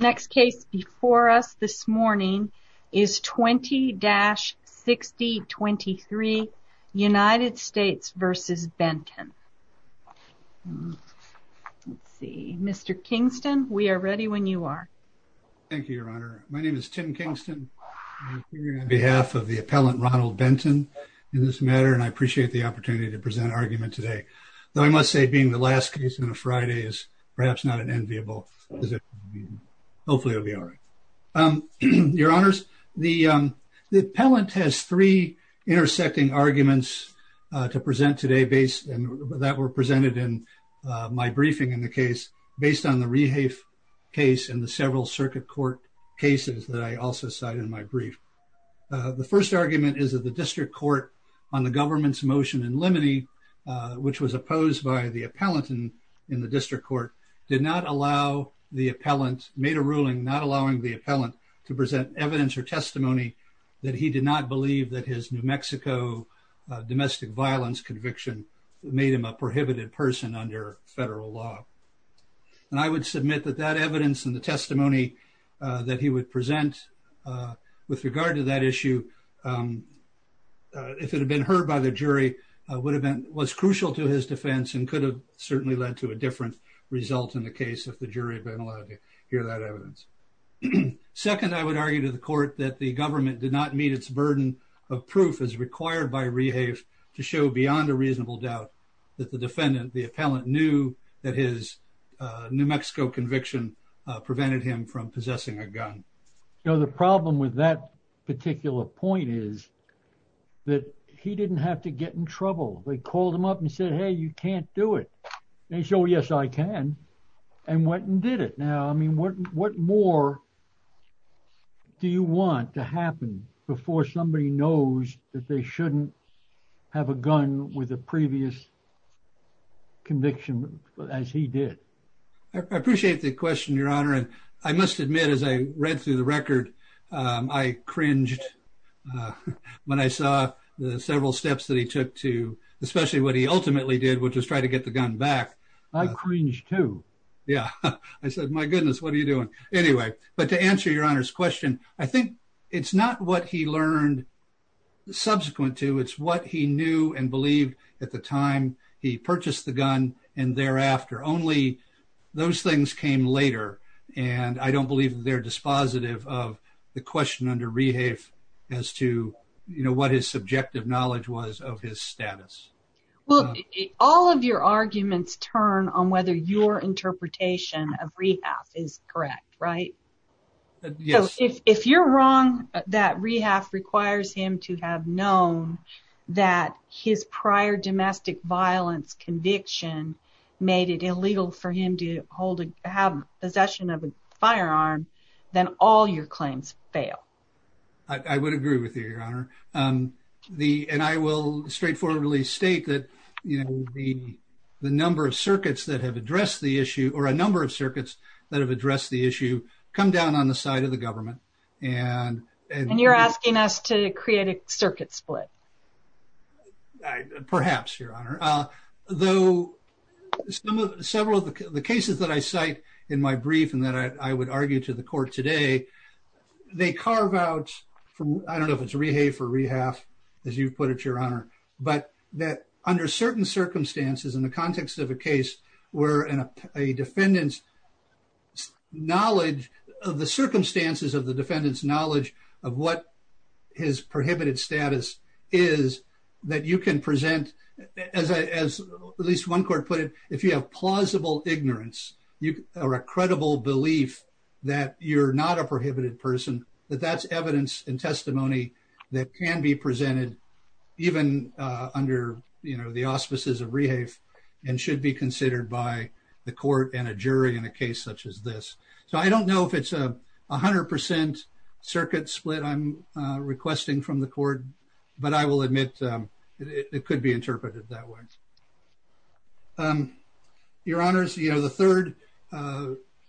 Next case before us this morning is 20-6023 United States v. Benton. Let's see, Mr. Kingston, we are ready when you are. Thank you, Your Honor. My name is Tim Kingston. I'm here on behalf of the appellant Ronald Benton in this matter and I appreciate the opportunity to present argument today, though I must say being the last case on a Friday is perhaps not an enviable position. Hopefully it will be all right. Your Honors, the appellant has three intersecting arguments to present today that were presented in my briefing in the case based on the Rehafe case and the several circuit court cases that I also cited in my brief. The first argument is that the district court on the government's motion in limine, which was opposed by the appellant in the district court, did not allow the appellant, made a ruling not allowing the appellant to present evidence or testimony that he did not believe that his New Mexico domestic violence conviction made him a prohibited person under federal law. And I would submit that that evidence and the testimony that he would present with regard to that issue, if it had been heard by the jury, would have been was crucial to his defense and could have certainly led to a different result in the case if the jury had been allowed to hear that evidence. Second, I would argue to the court that the government did not meet its burden of proof as required by Rehafe to show beyond a reasonable doubt that the defendant, the appellant, knew that his New Mexico conviction prevented him from possessing a gun. Now, the problem with that particular point is that he didn't have to get in trouble. They called him up and said, hey, you can't do it. And he said, well, yes, I can. And went and did it. Now, I mean, what more do you want to happen before somebody knows that they shouldn't have a gun with a conviction as he did? I appreciate the question, Your Honor. And I must admit, as I read through the record, I cringed when I saw the several steps that he took to especially what he ultimately did, which was try to get the gun back. I cringed too. Yeah. I said, my goodness, what are you doing? Anyway, but to answer Your Honor's question, I think it's not what he learned subsequent to, it's what he knew and believed at the time he purchased the gun. And thereafter, only those things came later. And I don't believe they're dispositive of the question under Rehafe as to, you know, what his subjective knowledge was of his status. Well, all of your arguments turn on whether your interpretation of Rehafe is correct, right? Yes. If you're wrong, that Rehafe requires him to have known that his prior domestic violence conviction made it illegal for him to have possession of a firearm, then all your claims fail. I would agree with you, Your Honor. And I will straightforwardly state that, you know, the number of circuits that have addressed the issue, or a number of circuits that have addressed the issue, come down on the side of the government. And you're asking us to create a circuit split. Perhaps, Your Honor. Though several of the cases that I cite in my brief and that I would argue to the court today, they carve out from, I don't know if it's Rehafe or Rehafe, as you've put it, Your Honor, but that under certain circumstances in the context of a case where a defendant's knowledge of the circumstances of the defendant's knowledge of what his prohibited status is, that you can present, as at least one court put it, if you have plausible ignorance or a credible belief that you're not a prohibited person, that that's evidence and testimony that can be presented even under, you know, the auspices of Rehafe and should be considered by the court and a jury in a case such as this. So I don't know if it's a 100% circuit split I'm requesting from the court, but I will admit it could be interpreted that way. Your Honors, you know, the third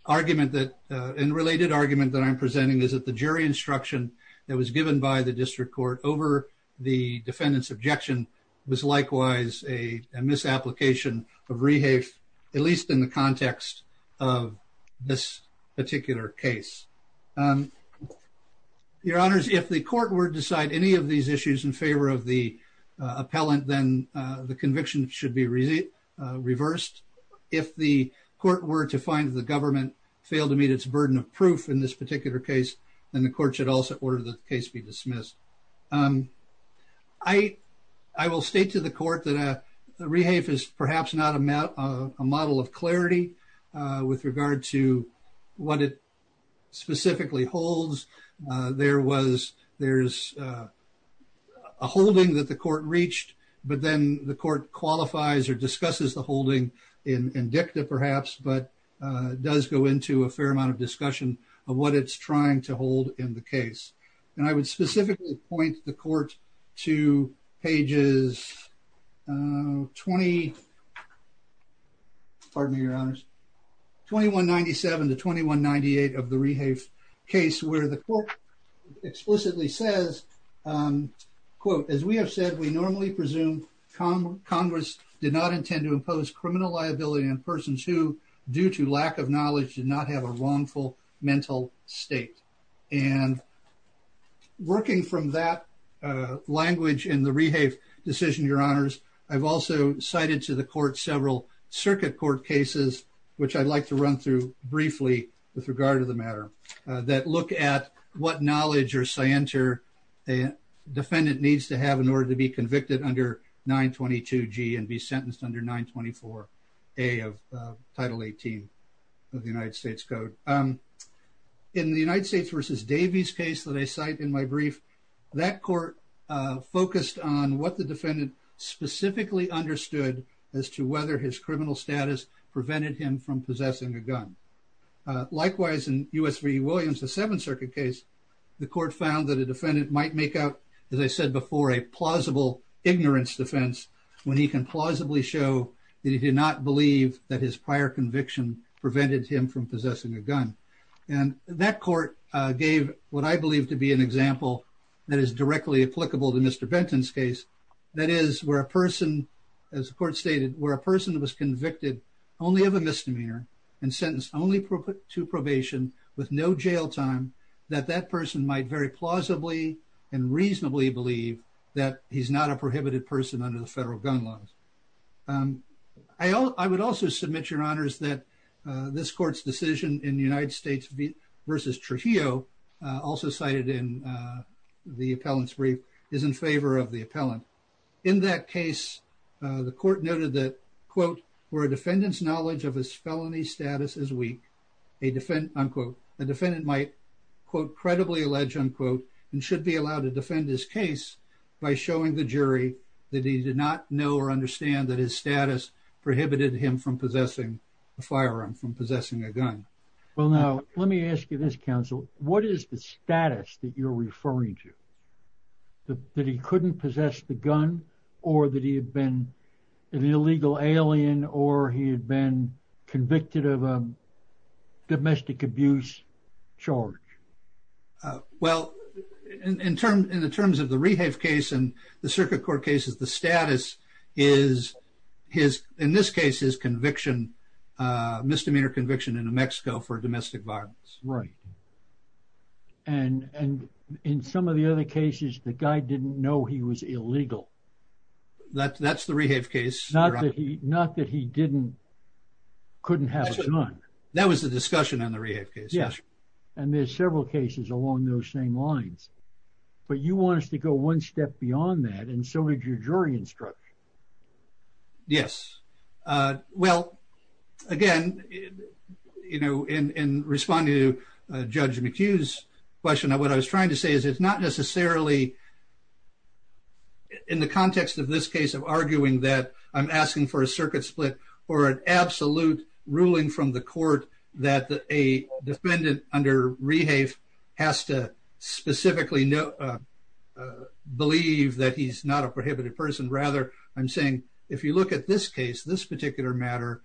argument that, and related argument that I'm presenting is that the jury instruction that was given by the district court over the defendant's objection was likewise a misapplication of Rehafe, at least in the context of this particular case. Your Honors, if the court were to decide any of these issues in favor of the appellant, then the conviction should be reversed. If the court were to find the government failed to meet its burden of proof in this particular case, then the court should also order the case be dismissed. I will state to the court that Rehafe is perhaps not a model of clarity with regard to what it specifically holds. There was, there's a holding that the court reached, but then the court qualifies or discusses the holding in dicta perhaps, but does go into a specific point the court to pages 20, pardon me, Your Honors, 2197 to 2198 of the Rehafe case where the court explicitly says, quote, as we have said, we normally presume Congress did not intend to impose criminal liability on persons who, due to lack of working from that language in the Rehafe decision, Your Honors, I've also cited to the court several circuit court cases, which I'd like to run through briefly with regard to the matter that look at what knowledge or scienter a defendant needs to have in order to be convicted under 922G and be sentenced under 924A of Title 18 of the United States Code. In the United States versus Davies case that I cite in my brief, that court focused on what the defendant specifically understood as to whether his criminal status prevented him from possessing a gun. Likewise, in U.S. v. Williams, the Seventh Circuit case, the court found that a defendant might make out, as I said before, a plausible ignorance defense when he can plausibly show that he did not believe that his prior conviction prevented him from possessing a gun. And that court gave what I believe to be an example that is directly applicable to Mr. Benton's case, that is, where a person, as the court stated, where a person was convicted only of a misdemeanor and sentenced only to probation with no jail time, that that person might very plausibly and reasonably believe that he's not a prohibited person under the federal gun laws. I would also submit your honors that this court's decision in the United States v. Trujillo, also cited in the appellant's brief, is in favor of the appellant. In that case, the court noted that, quote, where a defendant's knowledge of his felony status is weak, a defendant, unquote, a defendant might, quote, defend his case by showing the jury that he did not know or understand that his status prohibited him from possessing a firearm, from possessing a gun. Well, now, let me ask you this, counsel. What is the status that you're referring to? That he couldn't possess the gun or that he had been an illegal alien or he had been convicted of a domestic abuse charge? Well, in terms of the Rehave case and the circuit court cases, the status is, in this case, his conviction, misdemeanor conviction in New Mexico for domestic violence. Right. And in some of the other cases, the guy didn't know he was illegal. That's the Rehave case. Not that he couldn't have a gun. That was the discussion on the Rehave case. Yes. And there's several cases along those same lines. But you want us to go one step beyond that. And so did your jury instruction. Yes. Well, again, you know, in responding to Judge McHugh's question, what I was trying to say is it's not necessarily in the context of this case of arguing that I'm asking for a circuit split or an absolute ruling from the court that a defendant under Rehave has to specifically believe that he's not a prohibited person. Rather, I'm saying if you look at this case, this particular matter,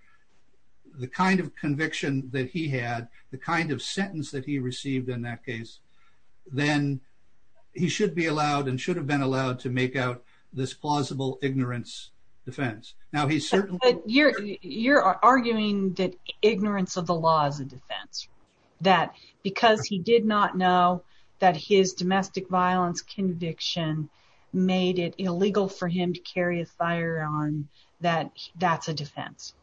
the kind of conviction that he had, the kind of sentence that he received in that case, then he should be allowed and should have been allowed to make out this plausible ignorance defense. But you're arguing that ignorance of the law is a defense. That because he did not know that his domestic violence conviction made it illegal for him to carry a firearm, that that's a defense.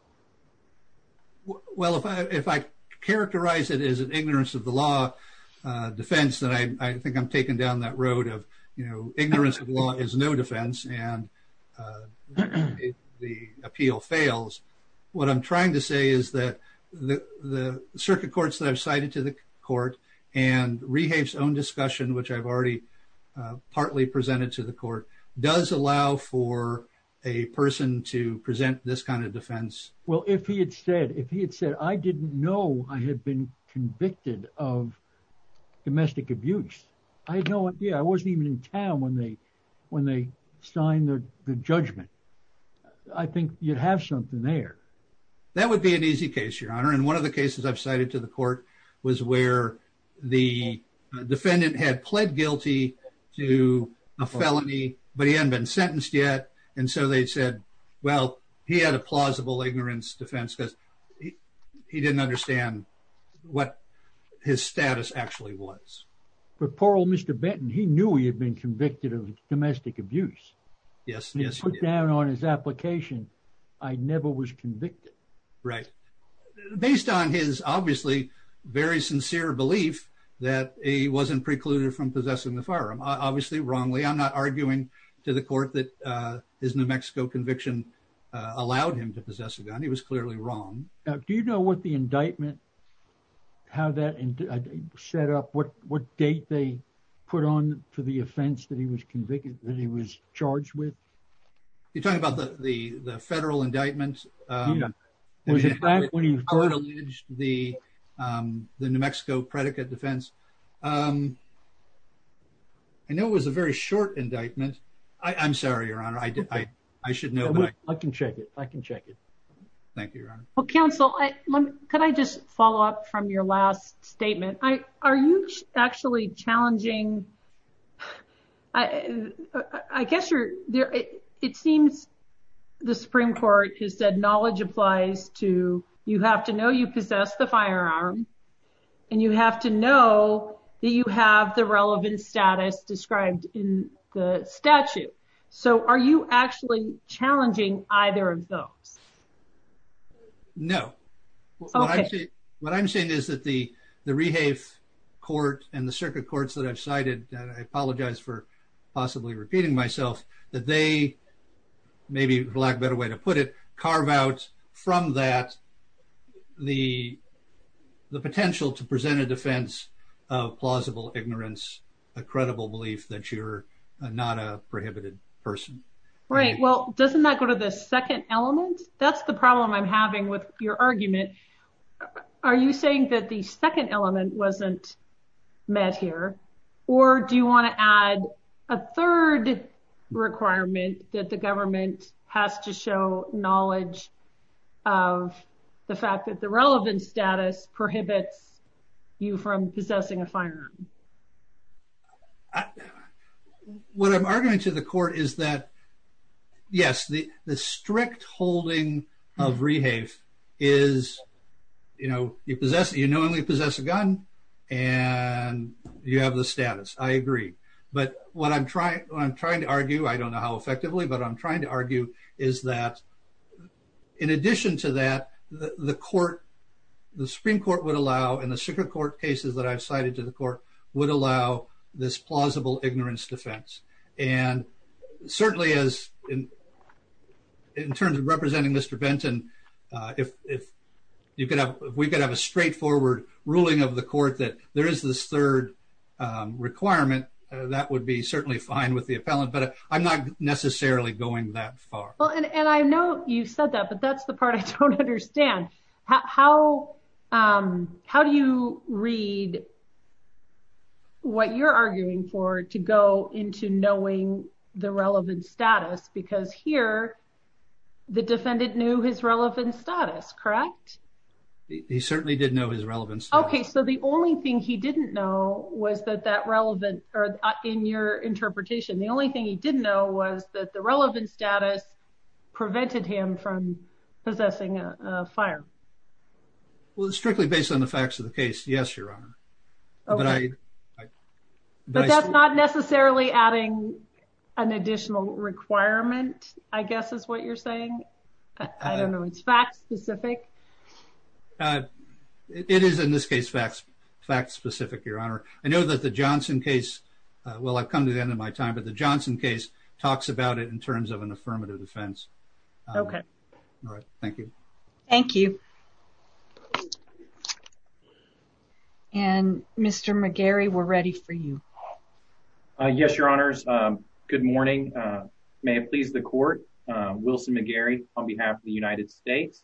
Well, if I characterize it as an ignorance of the law defense, then I think I'm taking down that road of, you know, ignorance of law is no defense and the appeal fails. What I'm trying to say is that the circuit courts that I've cited to the court and Rehave's own discussion, which I've already partly presented to the court, does allow for a person to present this kind of defense. Well, if he had said, if he had said, I didn't know I had been convicted of domestic abuse, I had no idea. I wasn't even in town when they when they signed the judgment. I think you'd have something there. That would be an easy case, your honor. And one of the cases I've cited to the court was where the defendant had pled guilty to a felony, but he hadn't been sentenced yet. And so they said, well, he had a plausible ignorance defense because he didn't understand what his status actually was. But poor old Mr. Benton, he knew he had been convicted of domestic abuse. Yes, yes. He put down on his application, I never was convicted. Right. Based on his obviously very sincere belief that he wasn't precluded from possessing the firearm, obviously wrongly, I'm not arguing to the court that his New Mexico conviction allowed him to possess a gun. He was that and set up what what date they put on for the offense that he was convicted, that he was charged with. You're talking about the the federal indictment? The New Mexico predicate defense. I know it was a very short indictment. I'm sorry, your honor. I did. I should know. I can check it. I can check it. Thank you, your honor. Counsel, could I just follow up from your last statement? Are you actually challenging? I guess you're there. It seems the Supreme Court has said knowledge applies to you have to know you possess the firearm and you have to know that you have the relevant status described in the statute. So are you actually challenging either of those? No. What I'm saying is that the the rehab court and the circuit courts that I've cited, I apologize for possibly repeating myself, that they maybe lack better way to put it, carve out from that the the potential to present a defense of plausible ignorance, a credible belief that you're not a prohibited person. Right. Well, doesn't that go to the second element? That's the problem I'm having with your argument. Are you saying that the second element wasn't met here? Or do you want to add a third requirement that the government has to show knowledge of the fact that the relevant status prohibits you from possessing a I. What I'm arguing to the court is that, yes, the the strict holding of rehab is, you know, you possess, you know, only possess a gun and you have the status. I agree. But what I'm trying, I'm trying to argue, I don't know how effectively, but I'm trying to argue is that in addition to that, the court, the Supreme Court would allow in the circuit court cases that I've cited to the court, would allow this plausible ignorance defense. And certainly as in terms of representing Mr. Benton, if you could have, we could have a straightforward ruling of the court that there is this third requirement, that would be certainly fine with the appellant. But I'm not necessarily going that far. Well, and I know you said that, but that's the part I don't understand. How, how do you read what you're arguing for to go into knowing the relevant status? Because here, the defendant knew his relevant status, correct? He certainly did know his relevance. Okay, so the only thing he didn't know was that that relevant or in your interpretation, the only thing he didn't know was that the relevant status prevented him from possessing a fire. Well, it's strictly based on the facts of the case. Yes, Your Honor. But that's not necessarily adding an additional requirement, I guess is what you're saying. I don't know. It's fact specific. It is in this case, facts, facts specific, Your Honor. I know that the Johnson case, well, I've come to the end of my time, but the Johnson case talks about it in terms of an affirmative defense. Okay. All right. Thank you. Thank you. And Mr. McGarry, we're ready for you. Yes, Your Honors. Good morning. May it please the court. Wilson McGarry on behalf of the United States.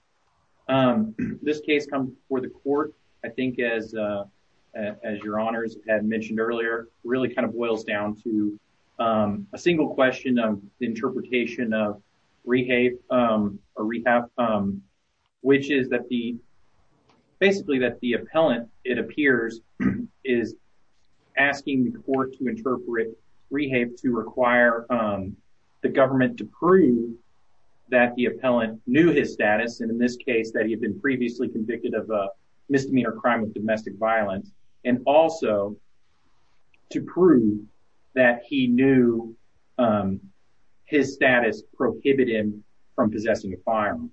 This case comes before the court, I think, as Your Honors had mentioned earlier, really kind of boils down to a single question of interpretation of rehape or rehab, which is that the basically that the appellant, it appears, is asking the court to interpret rehape to require the government to prove that the appellant knew his status. And in this case that he had been previously convicted of a misdemeanor crime of domestic violence, and also to prove that he knew his status prohibited from possessing a firearm.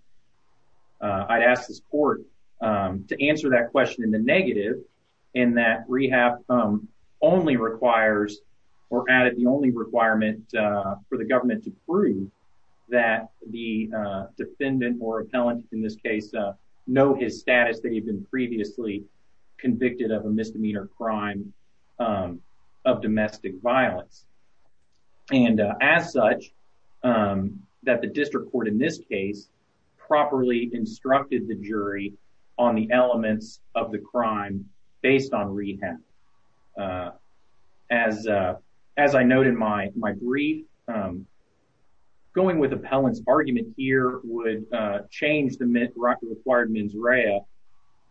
I'd ask this court to answer that question in the negative, in that rehab only requires or added the only requirement for the government to prove that the defendant or convicted of a misdemeanor crime of domestic violence. And as such, that the district court in this case properly instructed the jury on the elements of the crime based on rehab. As I noted in my brief, going with appellant's argument here would change the required mens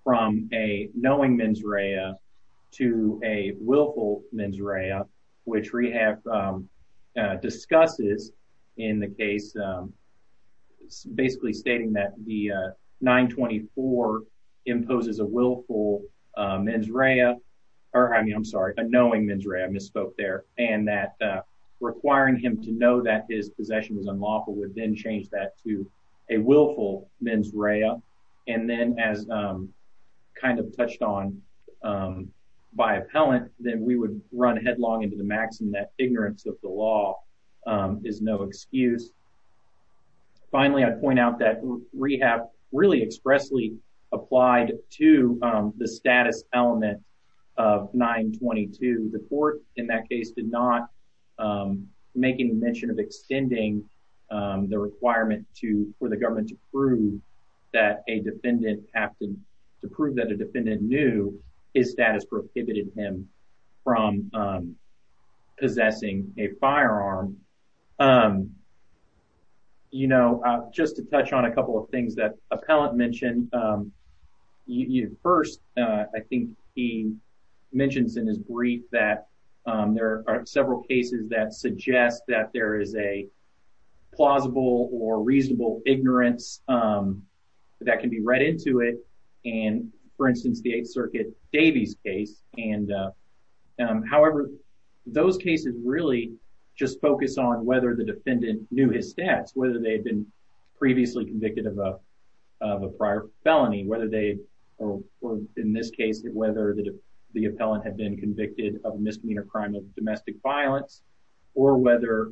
from a knowing mens rea to a willful mens rea, which rehab discusses in the case, basically stating that the 924 imposes a willful mens rea, or I'm sorry, a knowing mens rea, I misspoke there, and that requiring him to know that his possession is unlawful would then change that to a willful mens rea. And then as kind of touched on by appellant, then we would run headlong into the maxim that ignorance of the law is no excuse. Finally, I'd point out that rehab really expressly applied to the status element of 922. The court in that case did not make any mention of extending the requirement for the government to prove that a defendant knew his status prohibited him from possessing a firearm. You know, just to touch on a couple of things that appellant mentioned, you know, first, I think he mentions in his brief that there are several cases that suggest that there is a plausible or reasonable ignorance that can be read into it, and for instance, the 8th Circuit Davies case, and however, those cases really just focus on whether the defendant knew his stats, whether they had been previously convicted of a prior felony, whether they, or in this case, whether the appellant had been convicted of a misdemeanor crime of domestic violence, or whether,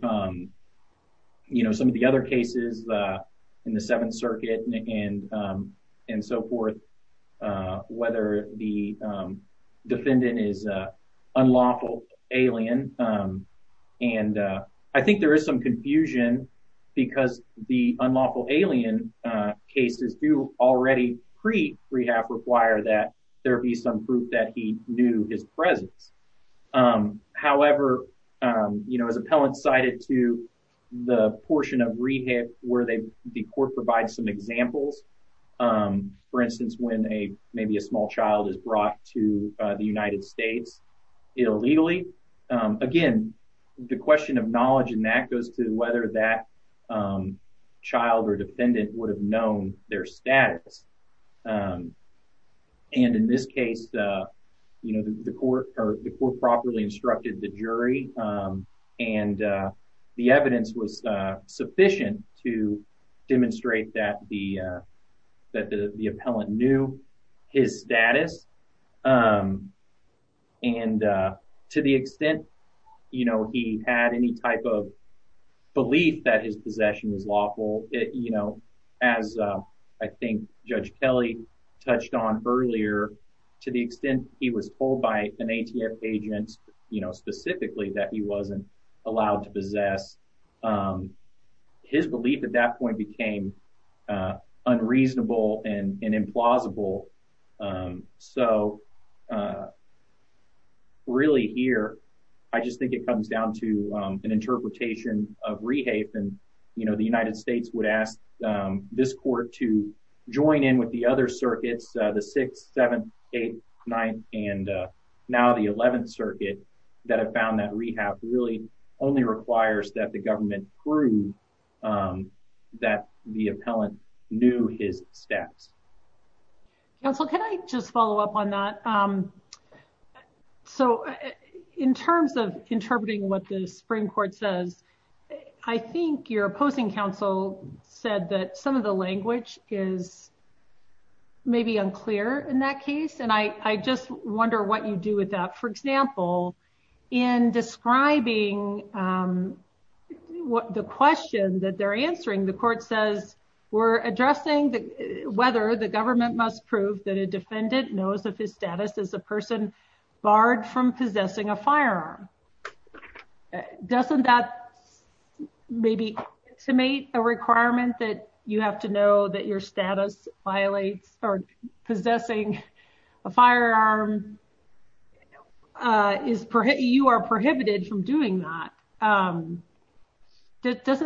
you know, some of the other cases in the 7th Circuit and so forth, whether the defendant is an unlawful alien, and I think there is some confusion because the unlawful alien cases do already pre-rehab require that there be some proof that he knew his presence. However, you know, as appellant cited to the portion of rehab where they, the court provides some examples, for instance, when maybe a small child is brought to the United States illegally, again, the question of knowledge in that goes to whether that child or defendant would have known their status, and in this case, you know, the court properly instructed the jury, and the evidence was sufficient to demonstrate that the appellant knew his status, and to the extent, you know, he had any type of belief that his possession was of an ATF agent, you know, specifically that he wasn't allowed to possess, his belief at that point became unreasonable and implausible, so really here, I just think it comes down to an interpretation of rehab, and you know, the United States would ask this court to join in with the other circuits, the 6th, 7th, 8th, 9th, and now the 11th circuit that have found that rehab really only requires that the government prove that the appellant knew his status. Counsel, can I just follow up on that? So in terms of interpreting what the Supreme Court says, I think your opposing counsel said that some of the language is maybe unclear in that case, and I just wonder what you do with that. For example, in describing the question that they're answering, the court says we're addressing whether the government must prove that a defendant knows of his status as a person barred from possessing a firearm. Doesn't that maybe estimate a requirement that you have to know that your status violates or possessing a firearm is, you are prohibited from doing that? Doesn't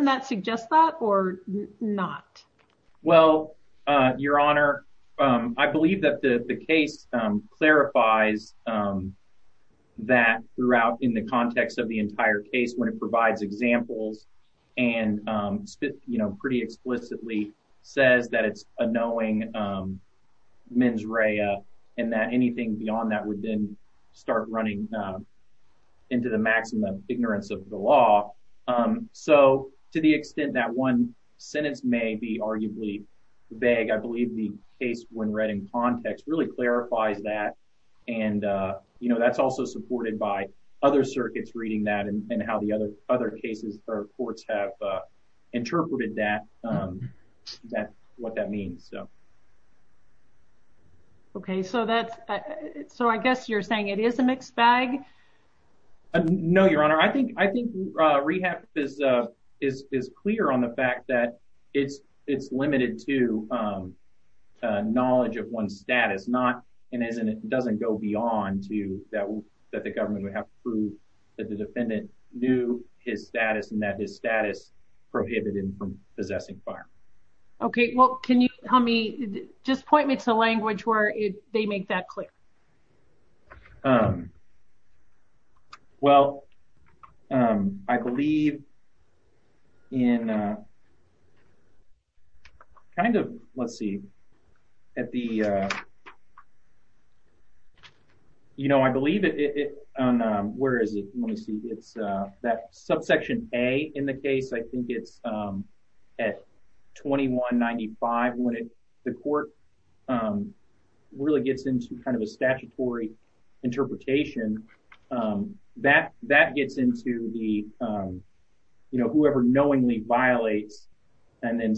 that suggest that or not? Well, Your Honor, I believe that the case clarifies that throughout in the context of the entire case when it provides examples and, you know, pretty explicitly says that it's a knowing mens rea and that anything beyond that would then start running into the maximum ignorance of the law. So to the extent that one sentence may be arguably vague, I believe the case when read in context really clarifies that and, you know, that's also supported by other circuits reading that and how the other cases or courts have interpreted that, what that means. Okay, so that's, so I guess you're saying it is a mixed bag? No, Your Honor, I think rehab is clear on the fact that it's limited to knowledge of one's status, not and it doesn't go beyond to that the government would have to prove that the defendant knew his status and that his status prohibited him from possessing a firearm. Okay, well can you tell me, just point me to language where they make that clear. Well, I believe in kind of, let's see, at the, you know, I believe it, where is it, let me see, it's that subsection A in the case, I think it's at 2195 when the court really gets into kind of a statutory interpretation, that gets into the, you know, whoever knowingly violates and then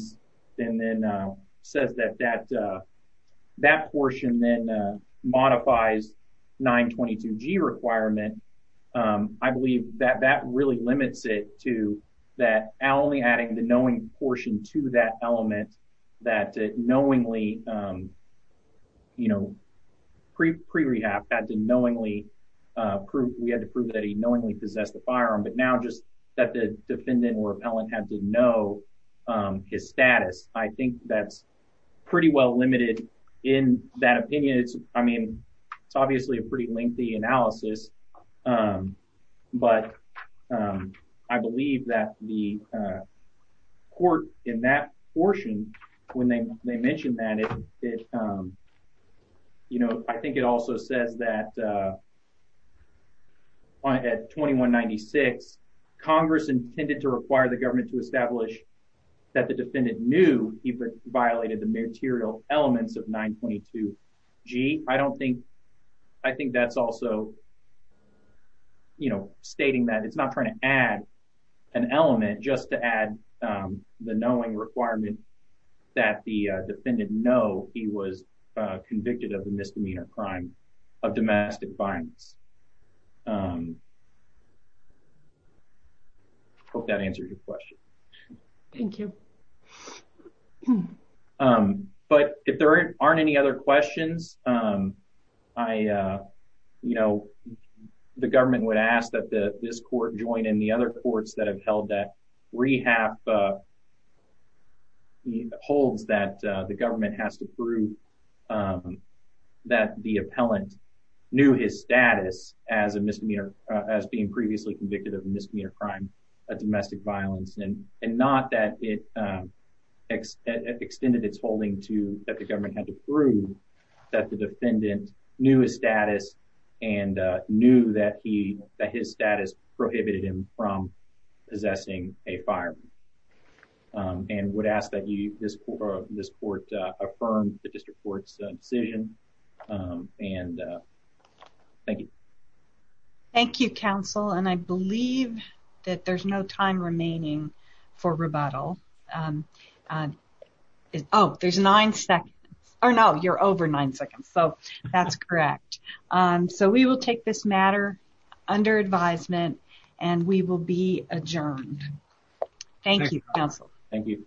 says that that portion then modifies 922G requirement, I believe that that really limits it to that only adding the knowing portion to that element that knowingly, you know, pre-rehab had to knowingly prove, we had to prove that he knowingly possessed the firearm, but now just that the defendant or appellant had to know his status. I think that's pretty well limited in that opinion. It's, I mean, it's obviously a pretty lengthy analysis, but I believe that the court in that portion when they mentioned that, you know, I think it also says that at 2196, Congress intended to require the government to establish that the defendant knew he violated the material elements of 922G. I don't think, I think that's also, you know, stating that it's not trying to add an element just to add the knowing requirement that the defendant know he was convicted of the misdemeanor crime of domestic violence. Hope that answers your question. Thank you. But if there aren't any other questions, I, you know, the government would ask that the, this court joint and the other courts that have held that rehab holds that the government has to prove that the appellant knew his status as a misdemeanor, as being previously convicted of a misdemeanor crime of domestic violence and not that it extended its holding to that the government had to prove that the defendant knew his status and knew that he, that his status prohibited him from possessing a firearm and would ask that you, this court, this court affirmed the district court's decision. And thank you. Thank you, counsel. And I believe that there's no time remaining for rebuttal. Oh, there's nine seconds or no, you're over nine seconds. So that's correct. So we will take this matter under advisement and we will be adjourned. Thank you counsel. Thank you.